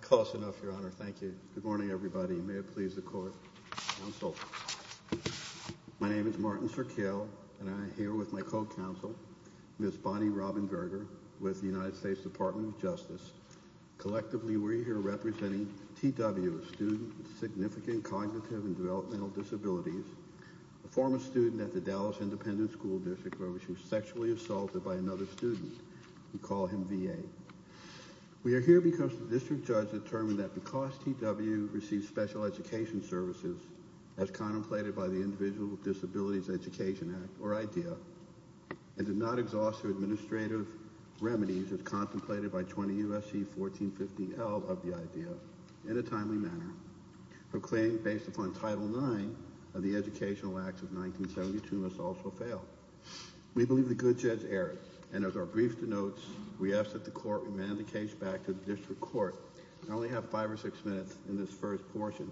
Close enough, your honor. Thank you. Good morning, everybody. May it please the court. My name is Martin Sirkel and I'm here with my co-counsel, Ms. Bonnie Robinberger, with the United States Department of Justice. Collectively, we're here representing T.W., a student with significant cognitive and developmental disabilities, a former student at the Dallas Independent School District where she was sexually assaulted by another student. We call him V.A. We are here because the district judge determined that because T.W. received special education services as contemplated by the Individual Disabilities Education Act, or IDEA, and did not exhaust her administrative remedies as contemplated by 20 U.S.C. 1450L of the IDEA in a timely manner, her claim based upon Title IX of the Educational Acts of 1972 must also fail. We believe the good judge erred, and as our brief denotes, we ask that the court remand the case back to the district court. I only have five or six minutes in this first portion,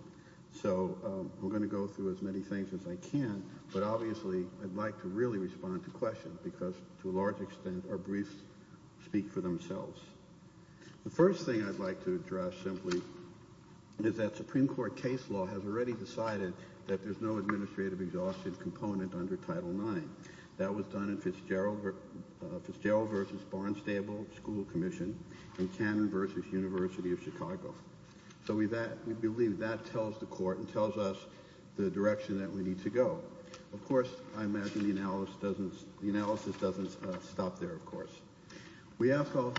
so we're going to go through as many things as I can, but obviously, I'd like to really respond to questions because, to a large extent, our briefs speak for themselves. The first thing I'd like to address simply is that Supreme Court case law has already decided that there's no administrative exhaustion component under Title IX. That was done in Fitzgerald v. Barnstable School Commission and Cannon v. University of Chicago. So we believe that tells the court and tells us the direction that we need to go. Of course, I imagine the analysis doesn't stop there, of course. We also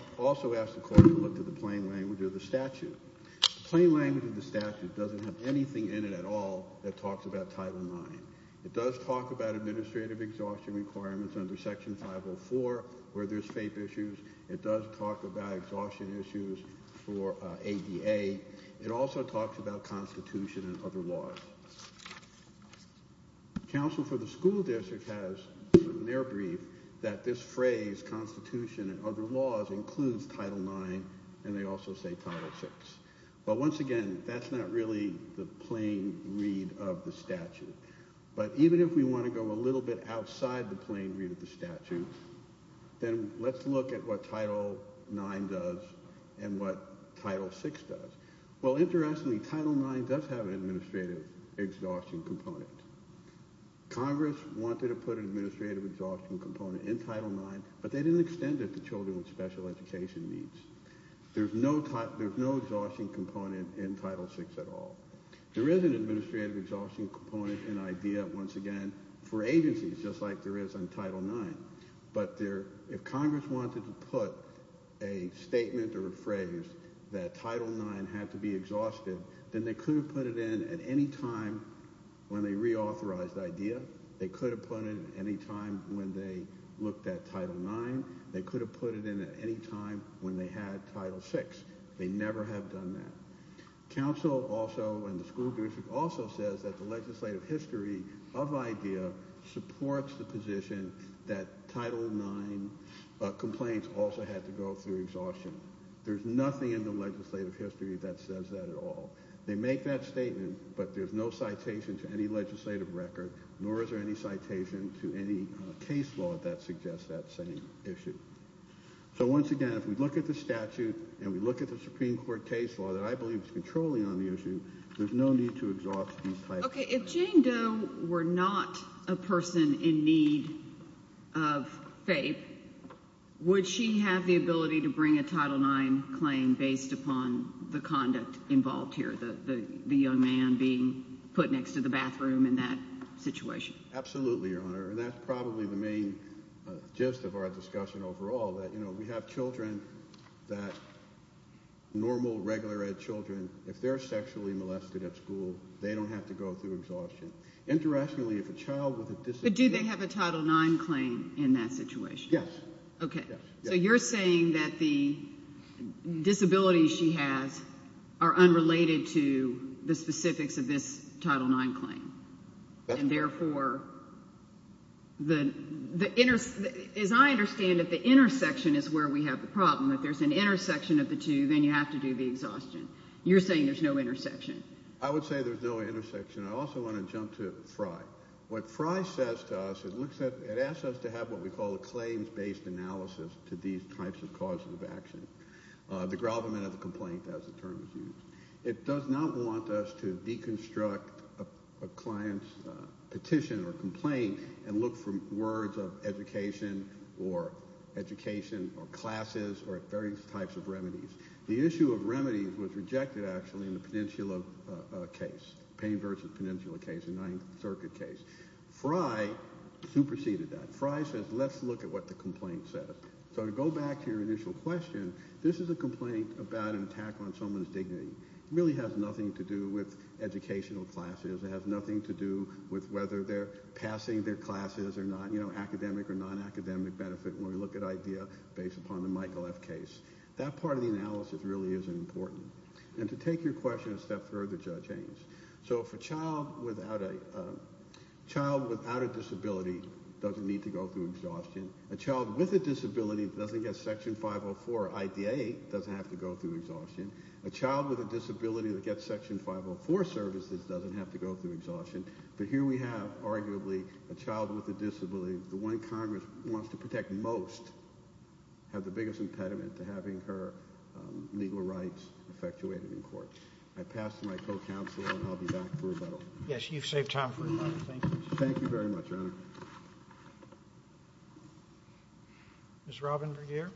ask the court to look at the plain language of the statute. The plain language of the statute doesn't have anything in it at all that talks about Title IX. It does talk about administrative exhaustion requirements under Section 504 where there's FAPE issues. It does talk about exhaustion issues for ADA. It also talks about Constitution and other laws. Counsel for the school district has, in their brief, that this phrase, Constitution and other laws. But once again, that's not really the plain read of the statute. But even if we want to go a little bit outside the plain read of the statute, then let's look at what Title IX does and what Title VI does. Well, interestingly, Title IX does have an administrative exhaustion component. Congress wanted to put an administrative exhaustion component in Title IX, but they didn't extend it to children with special education needs. There's no exhaustion component in Title VI at all. There is an administrative exhaustion component in IDEA, once again, for agencies, just like there is in Title IX. But if Congress wanted to put a statement or a phrase that Title IX had to be exhausted, then they could have put it in at any time when they reauthorized IDEA. They could have put it in at any time when they looked at Title IX. They could have put it in at any time when they had Title VI. They never have done that. Counsel also and the school district also says that the legislative history of IDEA supports the position that Title IX complaints also had to go through exhaustion. There's nothing in the legislative history that says that at all. They make that statement, but there's no citation to any legislative record, nor is there any citation to any case law that suggests that same issue. So once again, if we look at the statute and we look at the Supreme Court case law that I believe is controlling on the issue, there's no need to exhaust these types. Okay, if Jane Doe were not a person in need of FAPE, would she have the ability to bring a Title IX claim based upon the conduct involved here, the young man being put next to the bathroom in that situation? Absolutely, Your Honor, and that's probably the main gist of our discussion overall, that, you know, we have children that normal regular ed children, if they're sexually molested at school, they don't have to go through this. But do they have a Title IX claim in that situation? Yes. Okay, so you're saying that the disabilities she has are unrelated to the specifics of this Title IX claim, and therefore the, as I understand it, the intersection is where we have the problem. If there's an intersection of the two, then you have to do the exhaustion. You're saying there's no intersection. I would say there's no intersection. I also want to jump to FRI. What FRI says to us, it looks at, it asks us to have what we call a claims-based analysis to these types of causes of action, the gravamen of the complaint, as the term is used. It does not want us to deconstruct a client's petition or complaint and look for words of education or education or classes or various types of remedies. The issue of remedies was rejected, actually, in the Peninsula case, Payne versus Peninsula case, the Ninth Circuit case. FRI superseded that. FRI says, let's look at what the complaint says. So to go back to your initial question, this is a complaint about an attack on someone's dignity. It really has nothing to do with educational classes. It has nothing to do with whether they're passing their classes or not, you know, academic or non-academic benefit when we look at IDEA based upon the Michael F. case. That part of the analysis really is important. And to take your question a step further, Judge Ames, so if a child without a disability doesn't need to go through exhaustion, a child with a disability that doesn't get Section 504 or IDA doesn't have to go through exhaustion, a child with a disability that gets Section 504 services doesn't have to go through exhaustion, but here we have, arguably, a child with a disability that most have the biggest impediment to having her legal rights effectuated in court. I pass to my co-counsel, and I'll be back for rebuttal. Yes, you've saved time for rebuttal. Thank you. Thank you very much, Your Honor. Ms. Robin Vergeer.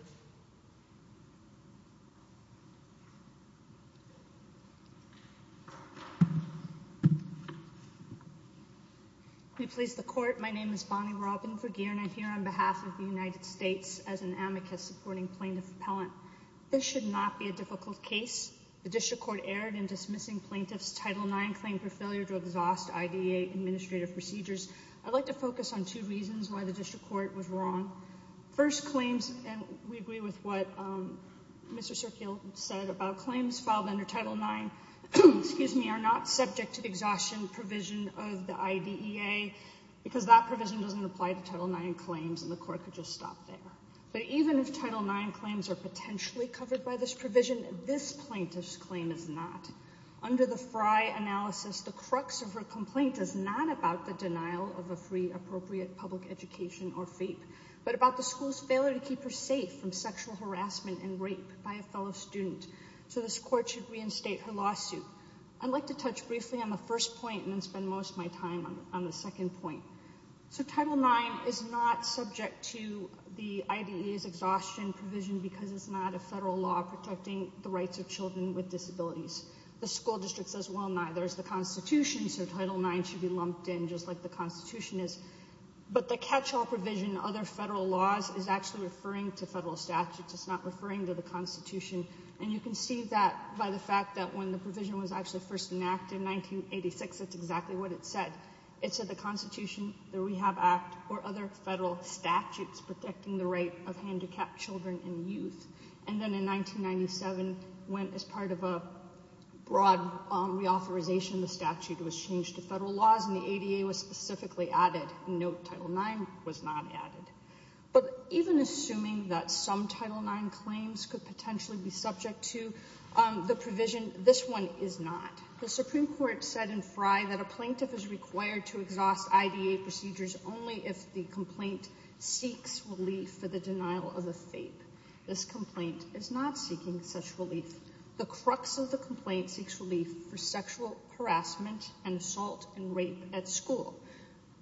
May it please the Court. My name is Bonnie Robin Vergeer, and I'm here on behalf of the United States as an amicus supporting plaintiff appellant. This should not be a difficult case. The district court erred in dismissing plaintiff's Title IX claim for failure to exhaust IDEA administrative procedures. I'd like to focus on two reasons why the district court was wrong. First claims, and we agree with what Mr. Serkiel said about claims filed under Title IX, excuse me, are not subject to the exhaustion provision of the IDEA because that provision doesn't apply to Title IX claims, and the court could just stop there. But even if Title IX claims are potentially covered by this provision, this plaintiff's claim is not. Under the Frey analysis, the crux of her complaint is not about the denial of a free, appropriate public education or FAPE, but about the school's failure to keep her safe from sexual harassment and rape by a fellow student. So this court should reinstate her lawsuit. I'd like to touch briefly on the first point and then spend most of my time on the second point. So Title IX is not subject to the IDEA's exhaustion provision because it's not a federal law protecting the rights of children with disabilities. The school district says, well, neither is the Constitution, so Title IX should be lumped in just like the Constitution is. But the catch-all provision, other federal laws, is actually referring to federal statutes. It's not referring to the Constitution, and you can see that by the fact that when the provision was actually first enacted in 1986, that's exactly what it said. It said the Constitution, the Rehab Act, or other federal statutes protecting the right of handicapped children and youth. And then in 1997, when as the ADA was specifically added, no Title IX was not added. But even assuming that some Title IX claims could potentially be subject to the provision, this one is not. The Supreme Court said in Frye that a plaintiff is required to exhaust IDEA procedures only if the complaint seeks relief for the denial of the FAPE. This complaint is not seeking such relief. The crux of the complaint seeks relief for sexual harassment and assault and rape at school.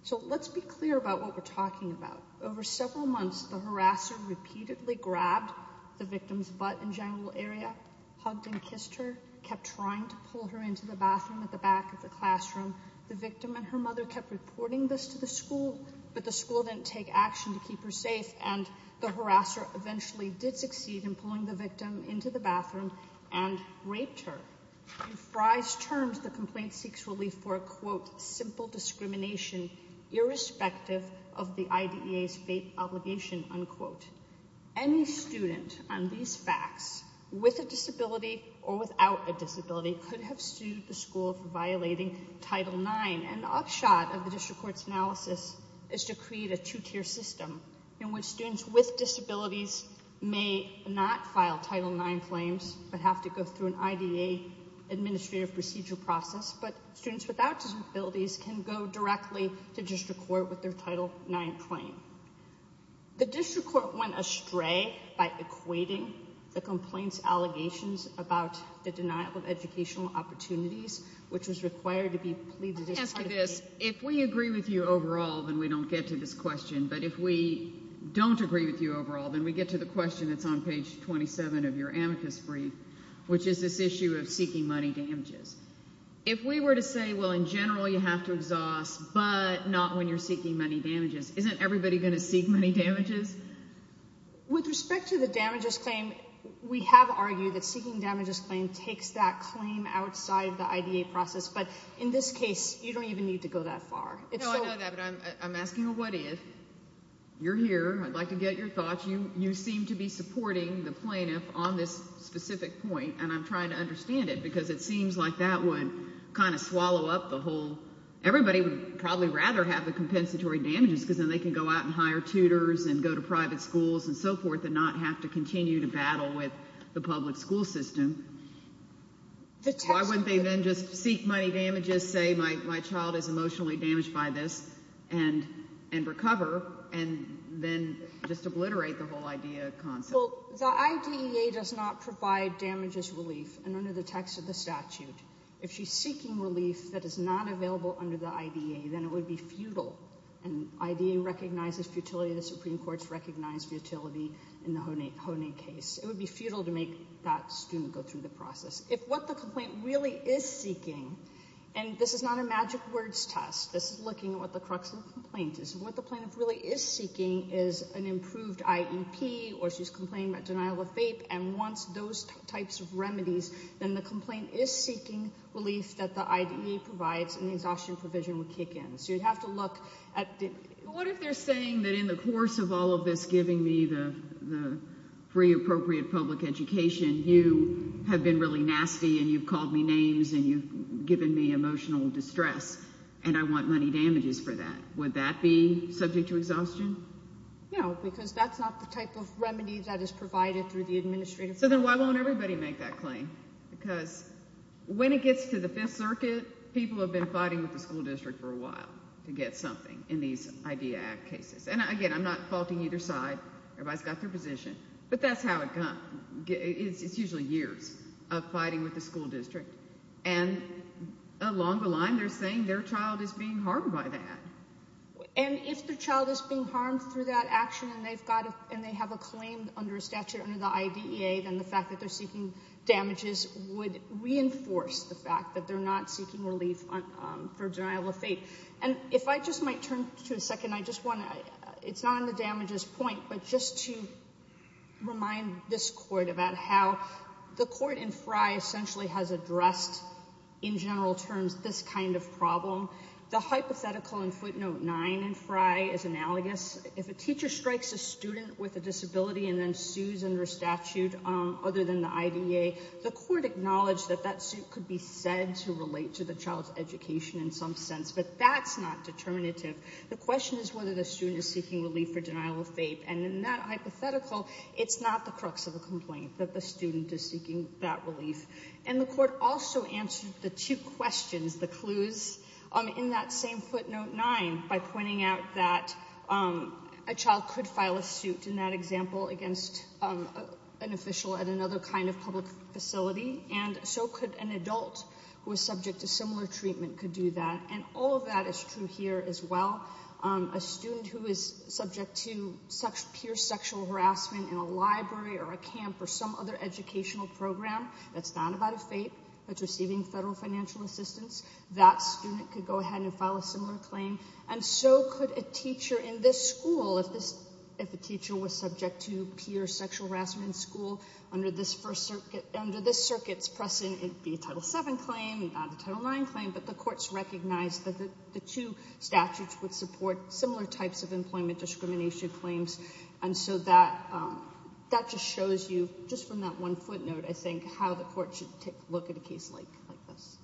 So let's be clear about what we're talking about. Over several months, the harasser repeatedly grabbed the victim's butt and genital area, hugged and kissed her, kept trying to pull her into the bathroom at the back of the classroom. The victim and her mother kept reporting this to the school, but the school didn't take action to keep her safe, and the harasser eventually did succeed in pulling the victim into the bathroom and raped her. In Frye's terms, the complaint seeks relief for a, quote, simple discrimination irrespective of the IDEA's FAPE obligation, unquote. Any student on these facts with a disability or without a disability could have sued the school for violating Title IX, and the upshot of the district court's analysis is to create a two-tier system in which students with disabilities may not file Title IX claims but have to go through an IDEA administrative procedure process, but students without disabilities can go directly to district court with their Title IX claim. The district court went astray by equating the complaint's allegations about the denial of educational opportunities, which was required to be pleaded but if we don't agree with you overall, then we get to the question that's on page 27 of your amicus brief, which is this issue of seeking money damages. If we were to say, well, in general, you have to exhaust, but not when you're seeking money damages, isn't everybody going to seek money damages? With respect to the damages claim, we have argued that seeking damages claim takes that claim outside the IDEA process, but in this case, you don't even need to go that far. No, I know that, I'm asking a what if. You're here, I'd like to get your thoughts. You seem to be supporting the plaintiff on this specific point and I'm trying to understand it because it seems like that would kind of swallow up the whole, everybody would probably rather have the compensatory damages because then they can go out and hire tutors and go to private schools and so forth and not have to continue to battle with the public school system. Why wouldn't they then just seek money damages, say my child is emotionally damaged by this, and recover, and then just obliterate the whole IDEA concept? Well, the IDEA does not provide damages relief, and under the text of the statute, if she's seeking relief that is not available under the IDEA, then it would be futile, and IDEA recognizes futility, the Supreme Court's recognized futility in the Honig case. It would be futile to make that student go through the process. If what the complaint really is seeking and this is not a magic words test, this is looking at what the crux of the complaint is, what the plaintiff really is seeking is an improved IEP or she's complaining about denial of FAPE and wants those types of remedies, then the complaint is seeking relief that the IDEA provides and the exhaustion provision would kick in. So you'd have to look at... What if they're saying that in the course of all of this giving me the free appropriate public education, you have been really nasty, and you've called me names, and you've given me emotional distress, and I want money damages for that. Would that be subject to exhaustion? No, because that's not the type of remedy that is provided through the administrative... So then why won't everybody make that claim? Because when it gets to the Fifth Circuit, people have been fighting with the school district for a while to get something in these IDEA Act cases, and again, I'm not faulting either side. Everybody's got their position, but that's how it got... It's usually years of fighting with the school district, and along the line, they're saying their child is being harmed by that. And if the child is being harmed through that action, and they've got it, and they have a claim under statute under the IDEA, then the fact that they're seeking damages would reinforce the fact that they're not seeking relief for denial of FAPE. And if I just might turn to a second, it's not on the damages point, but just to remind this Court about how the Court in Frey essentially has addressed, in general terms, this kind of problem. The hypothetical in footnote 9 in Frey is analogous. If a teacher strikes a student with a disability and then sues under statute other than the IDEA, the Court acknowledged that that suit could be said to relate to the student seeking relief for denial of FAPE. And in that hypothetical, it's not the crux of the complaint, that the student is seeking that relief. And the Court also answered the two questions, the clues, in that same footnote 9 by pointing out that a child could file a suit, in that example, against an official at another kind of public facility, and so could an adult who was subject to similar treatment could do that. And all of that is true here as well, a student who is subject to peer sexual harassment in a library or a camp or some other educational program that's not about a FAPE, that's receiving federal financial assistance, that student could go ahead and file a similar claim. And so could a teacher in this school, if a teacher was subject to peer sexual harassment in school under this circuit's precedent, it'd be a Title VII claim, not a Title IX claim, but the Court's recognized that the two statutes would similar types of employment discrimination claims. And so that just shows you, just from that one footnote, I think, how the Court should take a look at a case like this.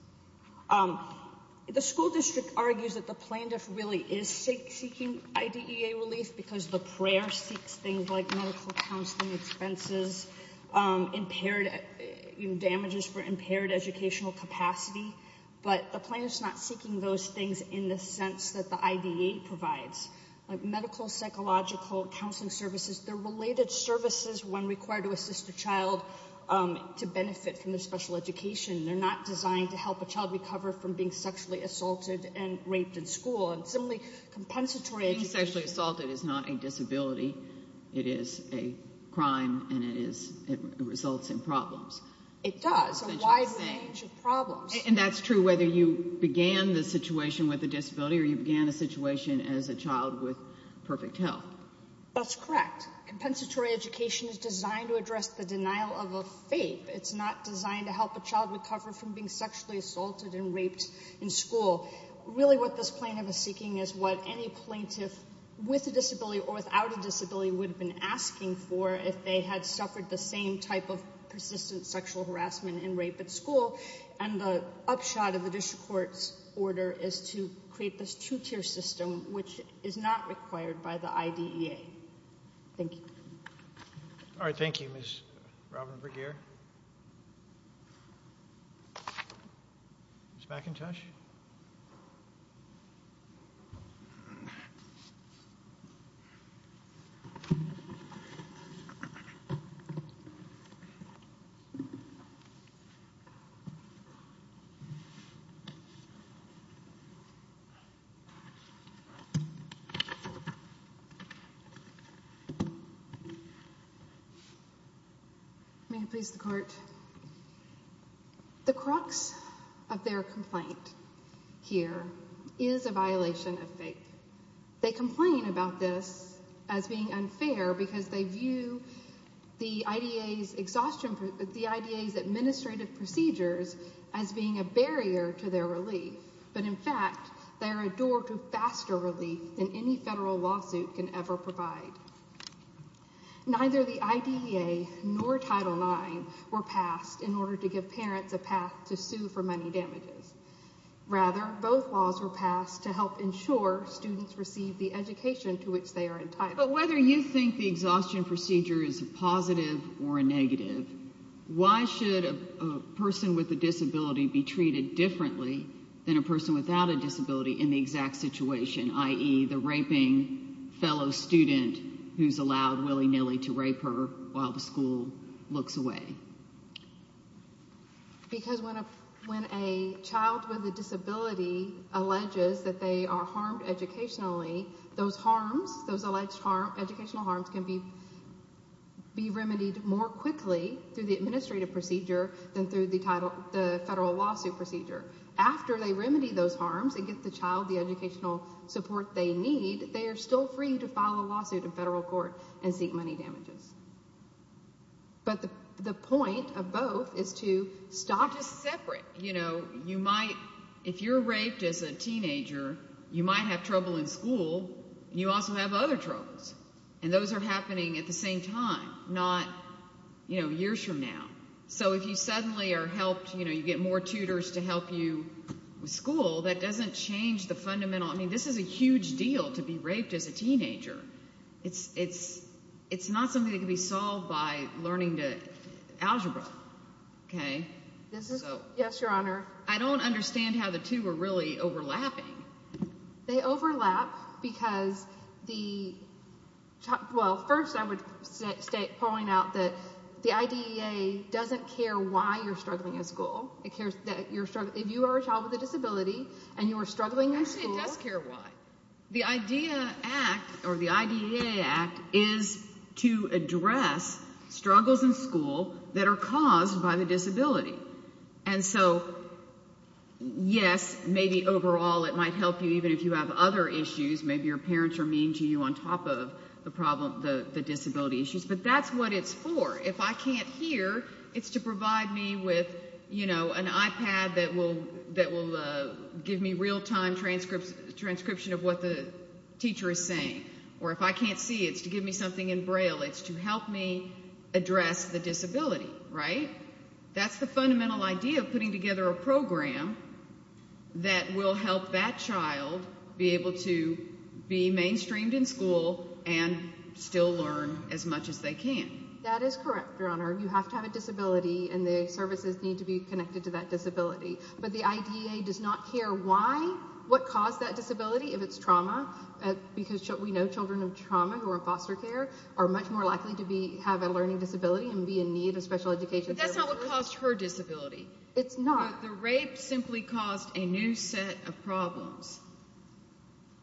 The school district argues that the plaintiff really is seeking IDEA relief because the prayer seeks things like medical counseling expenses, damages for impaired educational capacity, but the plaintiff's not seeking those things in the sense that the IDEA provides, like medical, psychological, counseling services. They're related services when required to assist the child to benefit from their special education. They're not designed to help a child recover from being sexually assaulted and raped in school. And simply compensatory... Being sexually assaulted is not a disability. It is a crime and it results in problems. It does, a wide range of problems. And that's true whether you began the situation with a disability or you began a situation as a child with perfect health. That's correct. Compensatory education is designed to address the denial of a fate. It's not designed to help a child recover from being sexually assaulted and raped in school. Really what this plaintiff is seeking is what any plaintiff with a disability or without a disability would have been asking for if they had suffered the same type of persistent sexual harassment and rape at school. And the upshot of the district court's order is to create this two-tier system, which is not required by the IDEA. Thank you. All right. Thank you, Ms. Robin Bruguier. Ms. McIntosh? May it please the court? The crux of their complaint here is a violation of fate. They complain about this as being unfair because they view the IDEA's administrative procedures as being a barrier to their relief. But in fact, they are a door to faster relief than any federal lawsuit can ever provide. Neither the IDEA nor Title IX were passed in order to give parents a path to sue for money damages. Rather, both laws were passed to help ensure students receive the education to which they are entitled. But whether you think the exhaustion procedure is a positive or a negative, why should a person with a disability be treated differently than a person without a disability in the exact situation, i.e., the raping fellow student who's allowed willy-nilly to rape her while the school looks away? Because when a child with a disability alleges that they are harmed educationally, those alleged educational harms can be remedied more quickly through the administrative procedure than through the federal lawsuit procedure. After they remedy those harms and get the child the educational support they need, they are still free to file a lawsuit in federal court and seek money damages. But the point of both is to stop... Just separate. You know, in school, you also have other troubles, and those are happening at the same time, not, you know, years from now. So if you suddenly are helped, you know, you get more tutors to help you with school, that doesn't change the fundamental... I mean, this is a huge deal to be raped as a teenager. It's not something that can be solved by learning the algebra, okay? Yes, Your Honor. I don't understand how the two are really overlapping. They overlap because the... Well, first, I would point out that the IDEA doesn't care why you're struggling in school. It cares that you're struggling... If you are a child with a disability and you are struggling in school... Actually, it does care why. The IDEA Act is to address struggles in school that are caused by the disability. And so, yes, maybe overall it might help you even if you have other issues. Maybe your parents are mean to you on top of the disability issues. But that's what it's for. If I can't hear, it's to provide me with, you know, an iPad that will give me real-time transcription of what the teacher is saying. Or if I can't see, it's to give me something in braille. It's to help me put together a program that will help that child be able to be mainstreamed in school and still learn as much as they can. That is correct, Your Honor. You have to have a disability and the services need to be connected to that disability. But the IDEA does not care why, what caused that disability. If it's trauma, because we know children of trauma who are in foster care are much more likely to have a learning disability and be in need of special education services. But that's not what caused her disability. It's not. But the rape simply caused a new set of problems.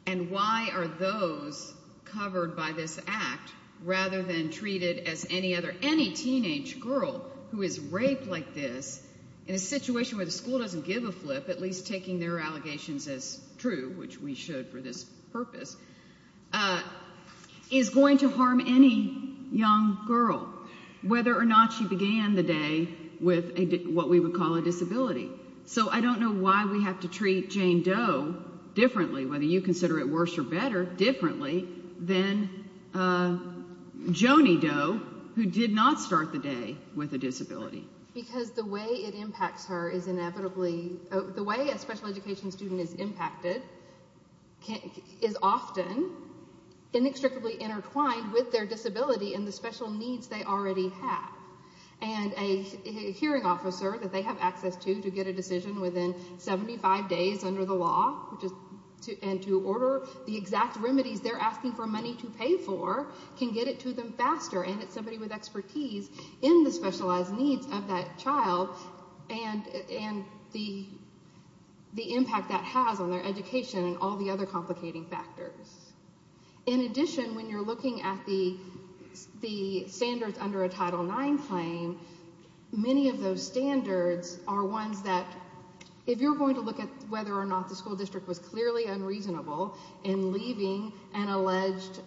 And why are those covered by this act, rather than treated as any other, any teenage girl who is raped like this, in a situation where the school doesn't give a flip, at least taking their allegations as true, which we should for this purpose, is going to harm any young girl, whether or not she began the day with what we call a disability. So I don't know why we have to treat Jane Doe differently, whether you consider it worse or better, differently than Joni Doe, who did not start the day with a disability. Because the way it impacts her is inevitably, the way a special education student is impacted is often inextricably intertwined with their disability and the special needs they already have. And a hearing officer that they have access to, to get a decision within 75 days under the law, and to order the exact remedies they're asking for money to pay for, can get it to them faster. And it's somebody with expertise in the specialized needs of that child and the the impact that has on their education and all the other complicating factors. In addition, when you're looking at the standards under a Title IX claim, many of those standards are ones that, if you're going to look at whether or not the school district was clearly unreasonable in leaving an alleged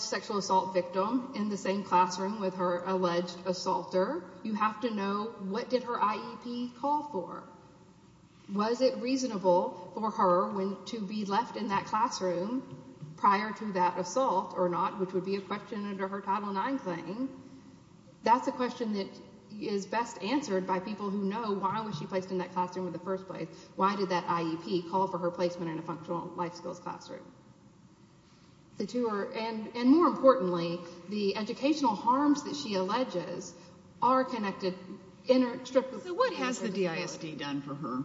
sexual assault victim in the same classroom with her alleged assaulter, you have to know what did her IEP call for. Was it reasonable for her to be left in that classroom prior to that assault or not, which would be a question under her Title IX claim? That's a question that is best answered by people who know why was she placed in that classroom in the first place. Why did that IEP call for her placement in a functional life skills classroom? And more importantly, the educational harms that for her.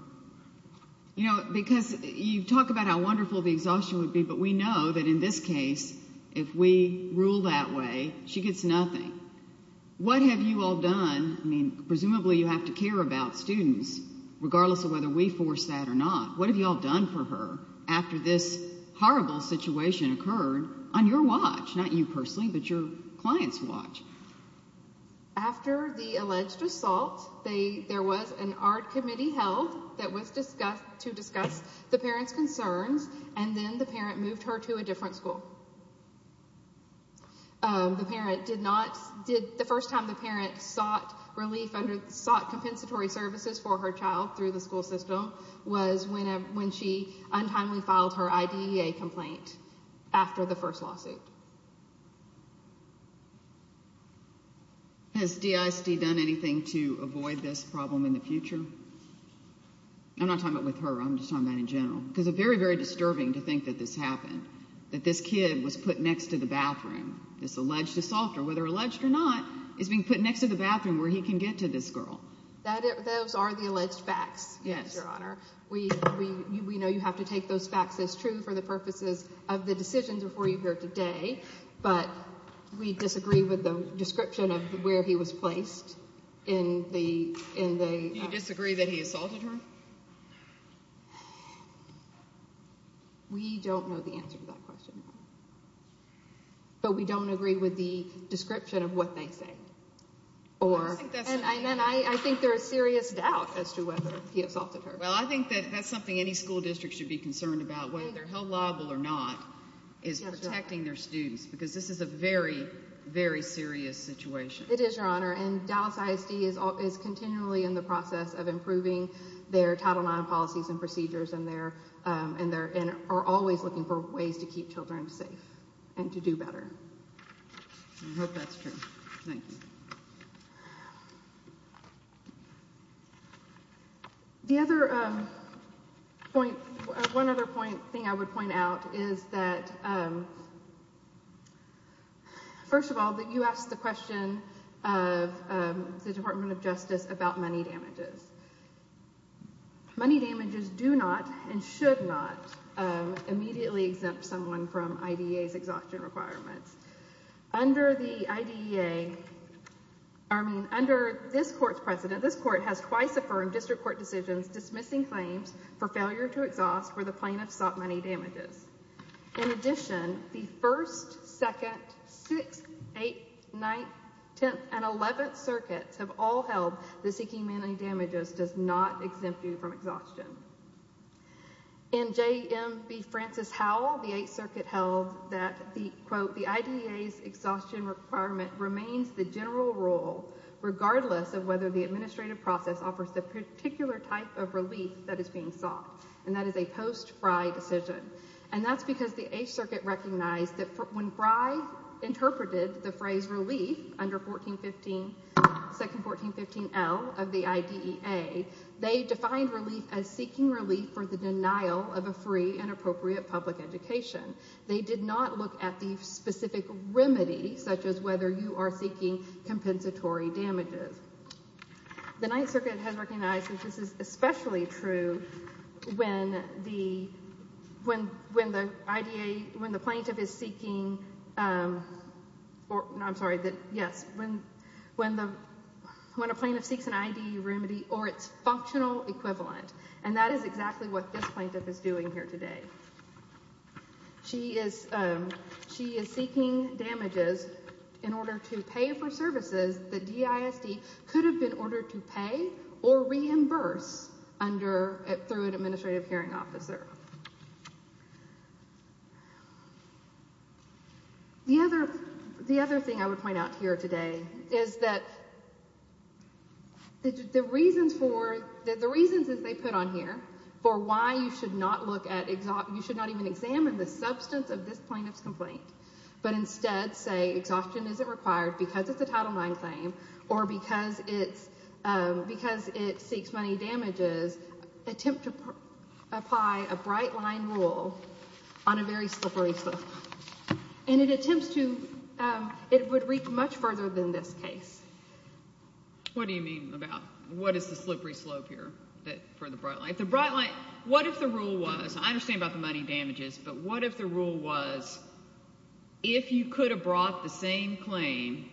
You know, because you talk about how wonderful the exhaustion would be, but we know that in this case, if we rule that way, she gets nothing. What have you all done? I mean, presumably you have to care about students, regardless of whether we force that or not. What have you all done for her after this horrible situation occurred on your watch? Not you personally, but your client's watch. After the alleged assault, there was an ARD committee held that was discussed to discuss the parent's concerns and then the parent moved her to a different school. The parent did not, the first time the parent sought relief, sought compensatory services for her child through the school system was when she untimely filed her IDEA complaint after the first lawsuit. Has DIST done anything to avoid this problem in the future? I'm not talking about with her, I'm just talking about in general, because it's very, very disturbing to think that this happened, that this kid was put next to the bathroom. This alleged assault, or whether alleged or not, is being put next to the bathroom where he can get to this girl. Those are the alleged facts, yes, your honor. We know you have to take those facts as true for the purposes of the decisions before you here today, but we disagree with the Do you disagree that he assaulted her? We don't know the answer to that question, but we don't agree with the description of what they say, and I think there is serious doubt as to whether he assaulted her. Well, I think that that's something any school district should be concerned about, whether they're held liable or not, is protecting their students, because this is a very, very serious situation. It is, your honor, and Dallas ISD is continually in the process of improving their Title IX policies and procedures and are always looking for ways to keep children safe and to do better. I hope that's true. Thank you. The other point, one other point, thing I would point out is that, first of all, that you asked the question of the Department of Justice about money damages. Money damages do not and should not immediately exempt someone from IDEA's exhaustion requirements. Under the IDEA, I mean, under this court's precedent, this court has twice affirmed district court decisions dismissing claims for failure to exhaust where the plaintiff sought money damages. In addition, the 1st, 2nd, 6th, 8th, 9th, 10th, and 11th circuits have all held that seeking money damages does not exempt you from exhaustion. In J.M.B. Francis Howell, the 8th circuit held that the, quote, the IDEA's exhaustion requirement remains the general rule, regardless of whether the administrative process offers the particular type of relief that is being sought, and that is post-Frey decision. And that's because the 8th circuit recognized that when Frey interpreted the phrase relief under 1415, 2nd 1415L of the IDEA, they defined relief as seeking relief for the denial of a free and appropriate public education. They did not look at the specific remedy, such as whether you are seeking compensatory damages. The 9th circuit has the, when the IDEA, when the plaintiff is seeking, I'm sorry, yes, when the, when a plaintiff seeks an IDEA remedy or its functional equivalent, and that is exactly what this plaintiff is doing here today. She is, she is seeking damages in order to pay for services that DISD could have been The other, the other thing I would point out here today is that the reasons for, the reasons that they put on here for why you should not look at, you should not even examine the substance of this plaintiff's complaint, but instead say exhaustion isn't required because it's a Title IX claim or because it's, because it seeks money damages, attempt to apply a bright line rule on a very slippery slope. And it attempts to, it would reach much further than this case. What do you mean about, what is the slippery slope here that, for the bright line? The bright line, what if the rule was, I understand about the money damages, but what if the rule was if you could have brought the same claim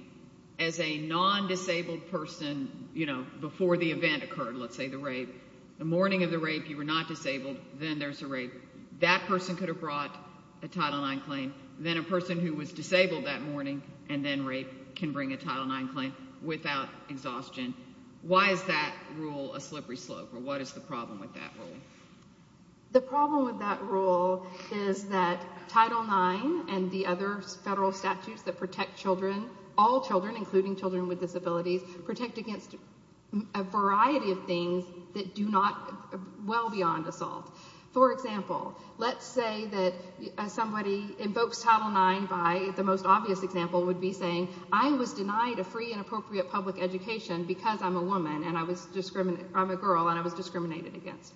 as a non-disabled person, you know, before the event occurred, let's say the rape, the morning of the rape, you were not disabled, then there's a rape, that person could have brought a Title IX claim, then a person who was disabled that morning and then rape can bring a Title IX claim without exhaustion. Why is that rule a slippery slope or what is the problem with that rule? The problem with that rule is that Title IX and the other federal statutes that protect children, all children, including children with disabilities, protect against a variety of things that do not, well beyond assault. For example, let's say that somebody invokes Title IX by, the most obvious example would be saying, I was denied a free and appropriate public education because I was discriminated against.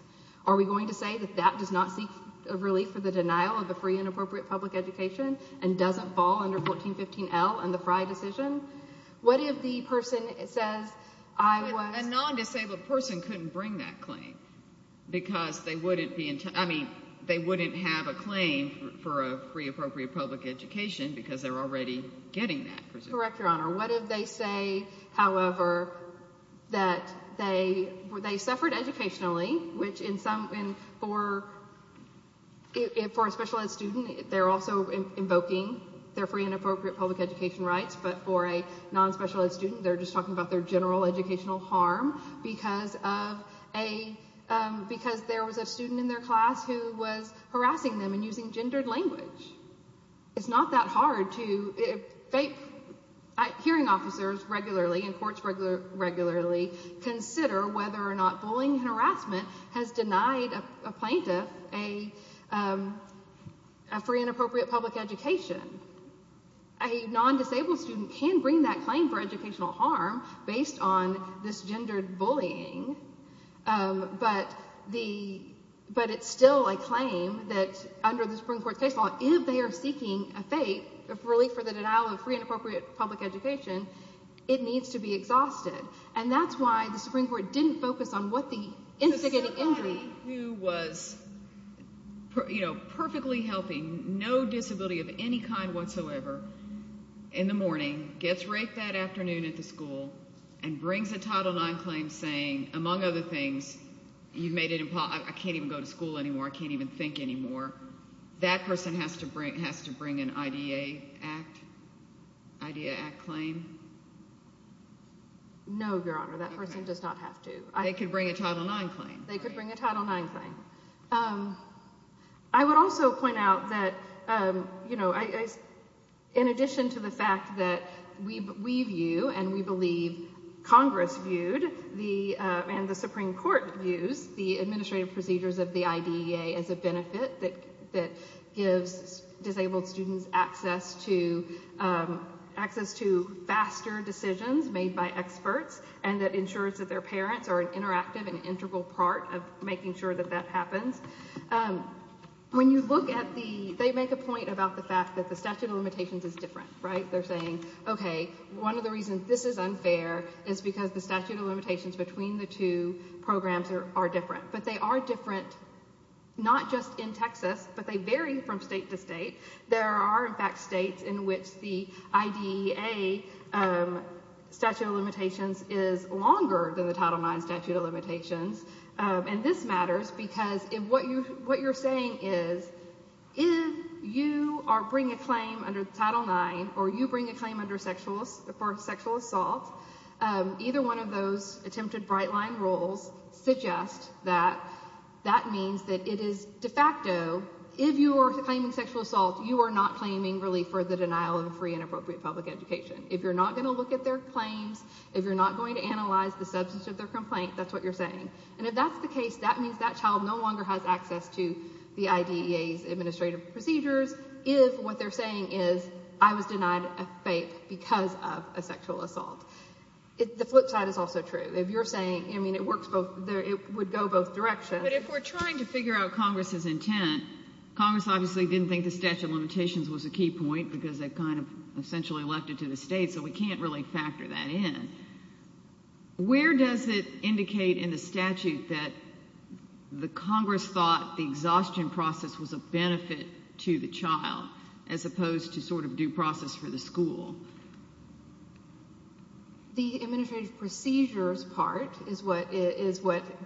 Are we going to say that that does not seek a relief for the denial of a free and appropriate public education and doesn't fall under 1415L and the Frye decision? What if the person says I was... A non-disabled person couldn't bring that claim because they wouldn't be, I mean, they wouldn't have a claim for a free appropriate public education because they're already getting that presumption. Correct, Your Honor. What if they say, however, that they suffered educationally, which in some, for a special ed student, they're also invoking their free and appropriate public education rights, but for a non-special ed student, they're just talking about their general educational harm because of a, because there was a student in their class who was harassing them and using hearing officers regularly and courts regularly consider whether or not bullying harassment has denied a plaintiff a free and appropriate public education. A non-disabled student can bring that claim for educational harm based on this gendered bullying, but it's still a claim that under the Supreme Court's case law, if they are seeking a fate of relief for the denial of free and appropriate public education, it needs to be exhausted. And that's why the Supreme Court didn't focus on what the instigating injury... So someone who was perfectly healthy, no disability of any kind whatsoever, in the morning gets raped that afternoon at the school and brings a Title IX claim saying, among other things, you've made it impossible, I can't even go to school anymore, I can't even think anymore, that person has to bring an IDEA Act claim? No, Your Honor, that person does not have to. They could bring a Title IX claim. They could bring a Title IX claim. I would also point out that, you know, in addition to the fact that we view and we believe Congress viewed and the Supreme Court views the administrative procedures of the IDEA as a benefit that gives disabled students access to faster decisions made by experts and that ensures that their parents are an interactive and integral part of making sure that that happens. When you look at the... They make a point about the fact that the statute of limitations is different, right? They're saying, okay, one of the reasons this is unfair is because the statute of limitations between the two programs are different. But they are different not just in Texas, but they vary from state to state. There are, in fact, states in which the IDEA statute of limitations is longer than the Title IX statute of limitations. And this matters because what you're saying is, if you bring a claim under Title IX or you bring a claim for sexual assault, either one of those attempted bright-line rules suggest that that means that it is de facto. If you are claiming sexual assault, you are not claiming relief for the denial of free and appropriate public education. If you're not going to look at their claims, if you're not going to analyze the substance of their complaint, that's what you're saying. And if that's the case, that means that child no longer has access to the IDEA's because of a sexual assault. The flip side is also true. If you're saying, I mean, it works both, it would go both directions. But if we're trying to figure out Congress's intent, Congress obviously didn't think the statute of limitations was a key point because they kind of essentially left it to the state, so we can't really factor that in. Where does it indicate in the statute that the Congress thought the exhaustion process was a school? The administrative procedures part is what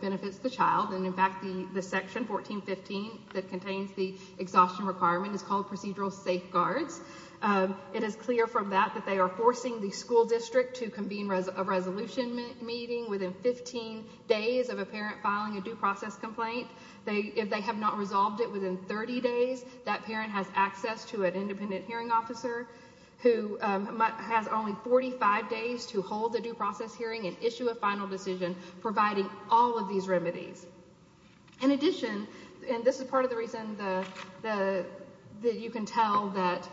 benefits the child. And in fact, the section 1415 that contains the exhaustion requirement is called procedural safeguards. It is clear from that that they are forcing the school district to convene a resolution meeting within 15 days of a parent filing a due process complaint. If they have not resolved it within 30 days, that parent has access to an independent hearing officer who has only 45 days to hold a due process hearing and issue a final decision providing all of these remedies. In addition, and this is part of the reason that you can tell that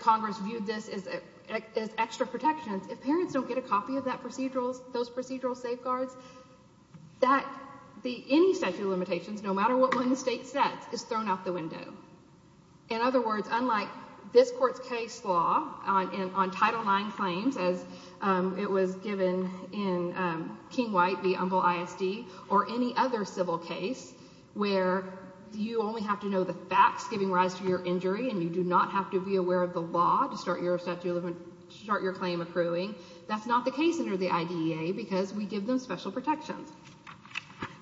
Congress viewed this as extra protections, if parents don't get a copy of those procedural safeguards, that any statute of limitations, no matter what one state says, is thrown out the window. In other words, unlike this Court's case law on Title IX claims as it was given in King-White v. Umbel ISD or any other civil case where you only have to know the facts giving rise to your injury and you do not have to be aware of the law to start your claim accruing, that's not the case with the IDEA because we give them special protections.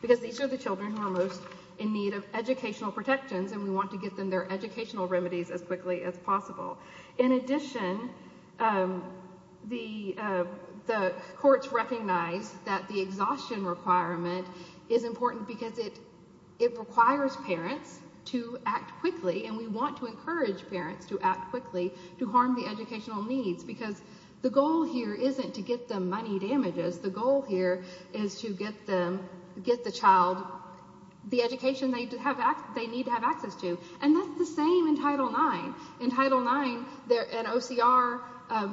Because these are the children who are most in need of educational protections and we want to get them their educational remedies as quickly as possible. In addition, the courts recognize that the exhaustion requirement is important because it requires parents to act quickly and we want to encourage parents to act The goal here is to get the child the education they need to have access to, and that's the same in Title IX. In Title IX, an OCR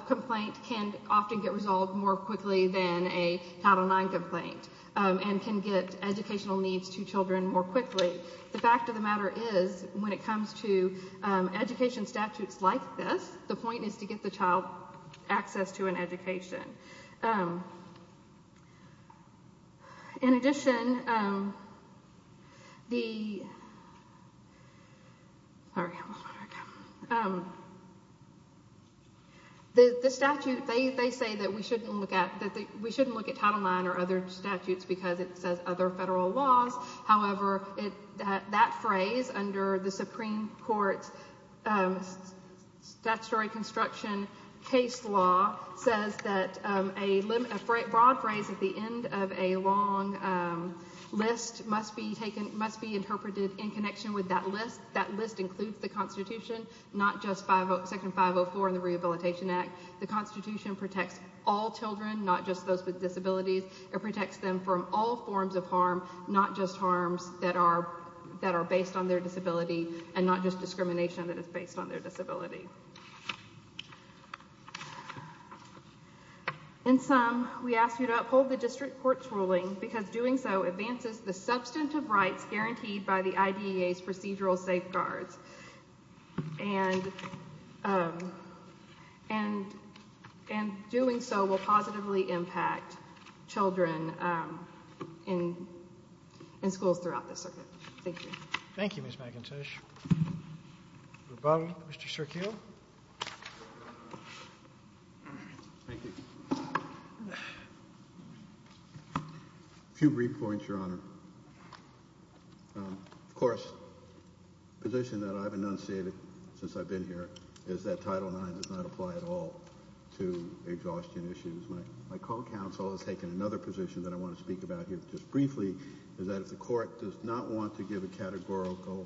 complaint can often get resolved more quickly than a Title IX complaint and can get educational needs to children more quickly. The fact of the matter is, when it comes to education statutes like this, the point is to get the child access to an education. In addition, the statute, they say that we shouldn't look at Title IX or other statutes because it says other federal laws. However, that phrase under the Supreme Court's construction case law says that a broad phrase at the end of a long list must be interpreted in connection with that list. That list includes the Constitution, not just Section 504 and the Rehabilitation Act. The Constitution protects all children, not just those with disabilities. It protects them from all forms of harm, not just harms that are based on their disability and not just discrimination that is based on their disability. In sum, we ask you to uphold the district court's ruling because doing so advances the substantive rights guaranteed by the IDEA's procedural safeguards and doing so will positively impact children in schools throughout this circuit. Thank you. Thank you, Ms. McIntosh. Mr. Sergio. Thank you. A few brief points, Your Honor. Of course, the position that I've enunciated since I've been here is that Title IX does not apply at all to exhaustion issues. My call counsel has taken another position that I want to speak about here just briefly, is that if the court does not want to give a categorical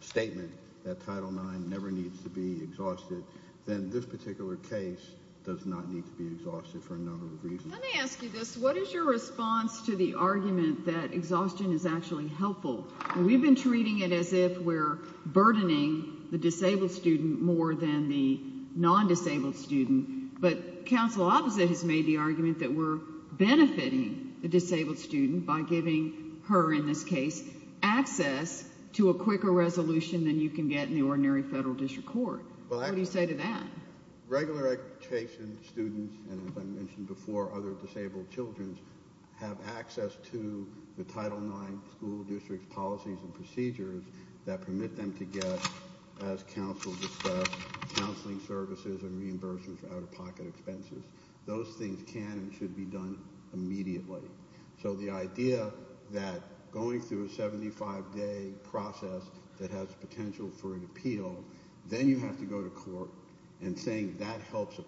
statement that Title IX never needs to be exhausted, then this particular case does not need to be exhausted for a number of reasons. Let me ask you this. What is your response to the argument that exhaustion is actually helpful? We've been treating it as if we're burdening the disabled student more than the non-disabled student, but counsel opposite has made the argument that we're benefiting the disabled student by giving her, in this case, access to a quicker resolution than you can get in the ordinary federal district court. What do you say to that? Regular education students and, as I mentioned before, other disabled children have access to the Title IX school district policies and procedures that permit them to get, as counsel discussed, counseling services and So the idea that going through a 75-day process that has potential for an appeal, then you have to go to court and saying that helps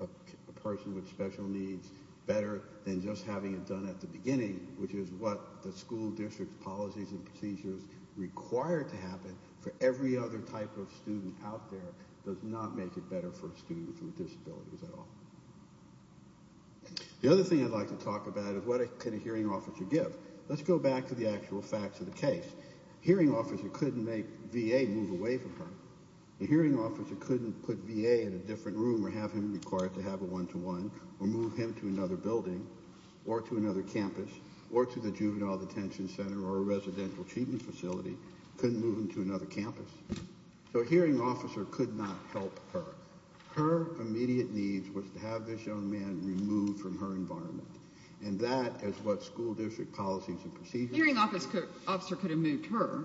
a person with special needs better than just having it done at the beginning, which is what the school district policies and procedures require to happen for every other type of student out there does not make it better for a student with disabilities at all. The other thing I'd like to talk about is what can a hearing officer give? Let's go back to the actual facts of the case. Hearing officer couldn't make VA move away from her. The hearing officer couldn't put VA in a different room or have him required to have a one-to-one or move him to another building or to another campus or to the juvenile detention center or a residential treatment facility, couldn't move him to another campus. So a hearing officer could not help her. Her immediate need was to have this young man removed from her environment, and that is what school district policies and procedures... Hearing officer could have moved her.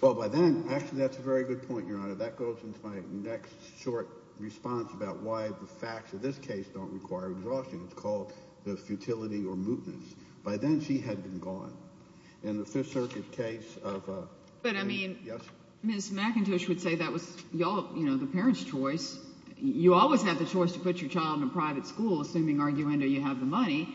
Well, by then, actually, that's a very good point, Your Honor. That goes into my next short response about why the facts of this case don't require exhaustion. It's called the futility or mootness. By then, she had been gone. In the Fifth Circuit case of... But I mean, Ms. McIntosh would say that was, you know, the parents' choice. You always have the choice to put your child in a private school, assuming, arguendo, you have the money,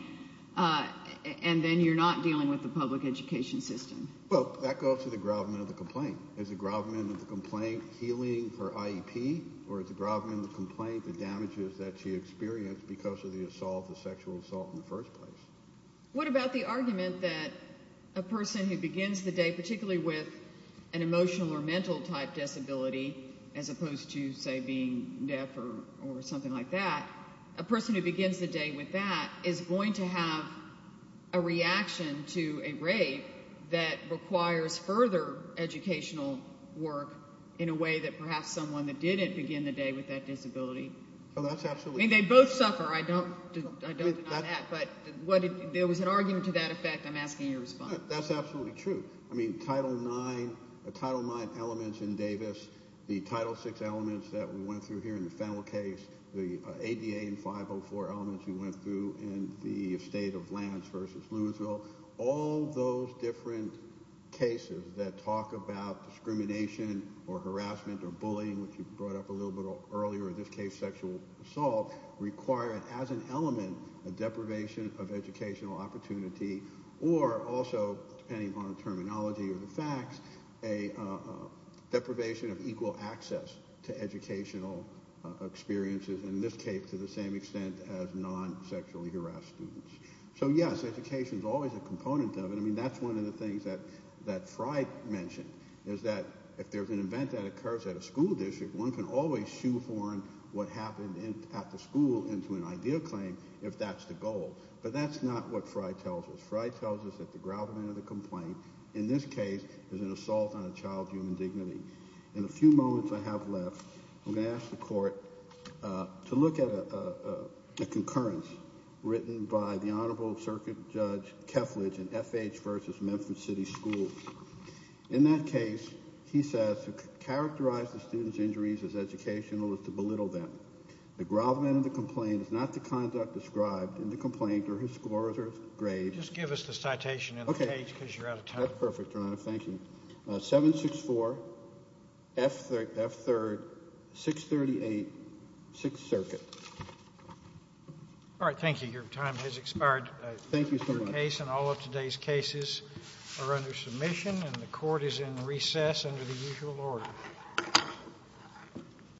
and then you're not dealing with the public education system. Well, that goes to the gravamen of the complaint. Is the gravamen of the complaint healing her IEP, or is the gravamen of the complaint the damages that she experienced because of the assault, the sexual assault in the first place? What about the argument that a person who begins the day, as opposed to, say, being deaf or something like that, a person who begins the day with that is going to have a reaction to a rape that requires further educational work in a way that perhaps someone that didn't begin the day with that disability... Oh, that's absolutely... I mean, they both suffer. I don't deny that, but there was an argument to that effect. I'm asking you to the Title VI elements that we went through here in the Fennell case, the ADA and 504 elements we went through in the state of Lance v. Louisville, all those different cases that talk about discrimination or harassment or bullying, which you brought up a little bit earlier, in this case, sexual assault, require, as an element, a deprivation of educational opportunity, or also, depending on terminology or the facts, a deprivation of equal access to educational experiences, in this case, to the same extent as non-sexually harassed students. So, yes, education is always a component of it. I mean, that's one of the things that Frey mentioned, is that if there's an event that occurs at a school district, one can always shoehorn what happened at the school into an idea claim if that's the goal, but that's not what Frey tells us. Frey tells us that the grovelment of the complaint, in this case, is an assault on a child's human dignity. In the few moments I have left, I'm going to ask the Court to look at a concurrence written by the Honorable Circuit Judge Keflage in FH v. Memphis City Schools. In that case, he says, to characterize the student's injuries as educational is to belittle them. The grovelment of the complaint is not the conduct described in the complaint or his scores or his grades. Just give us the citation in the page because you're out of time. That's perfect, Your Honor. Thank you. 764 F3, 638 6th Circuit. All right. Thank you. Your time has expired. Thank you so much. And all of today's cases are under submission, and the Court is in recess under the usual order.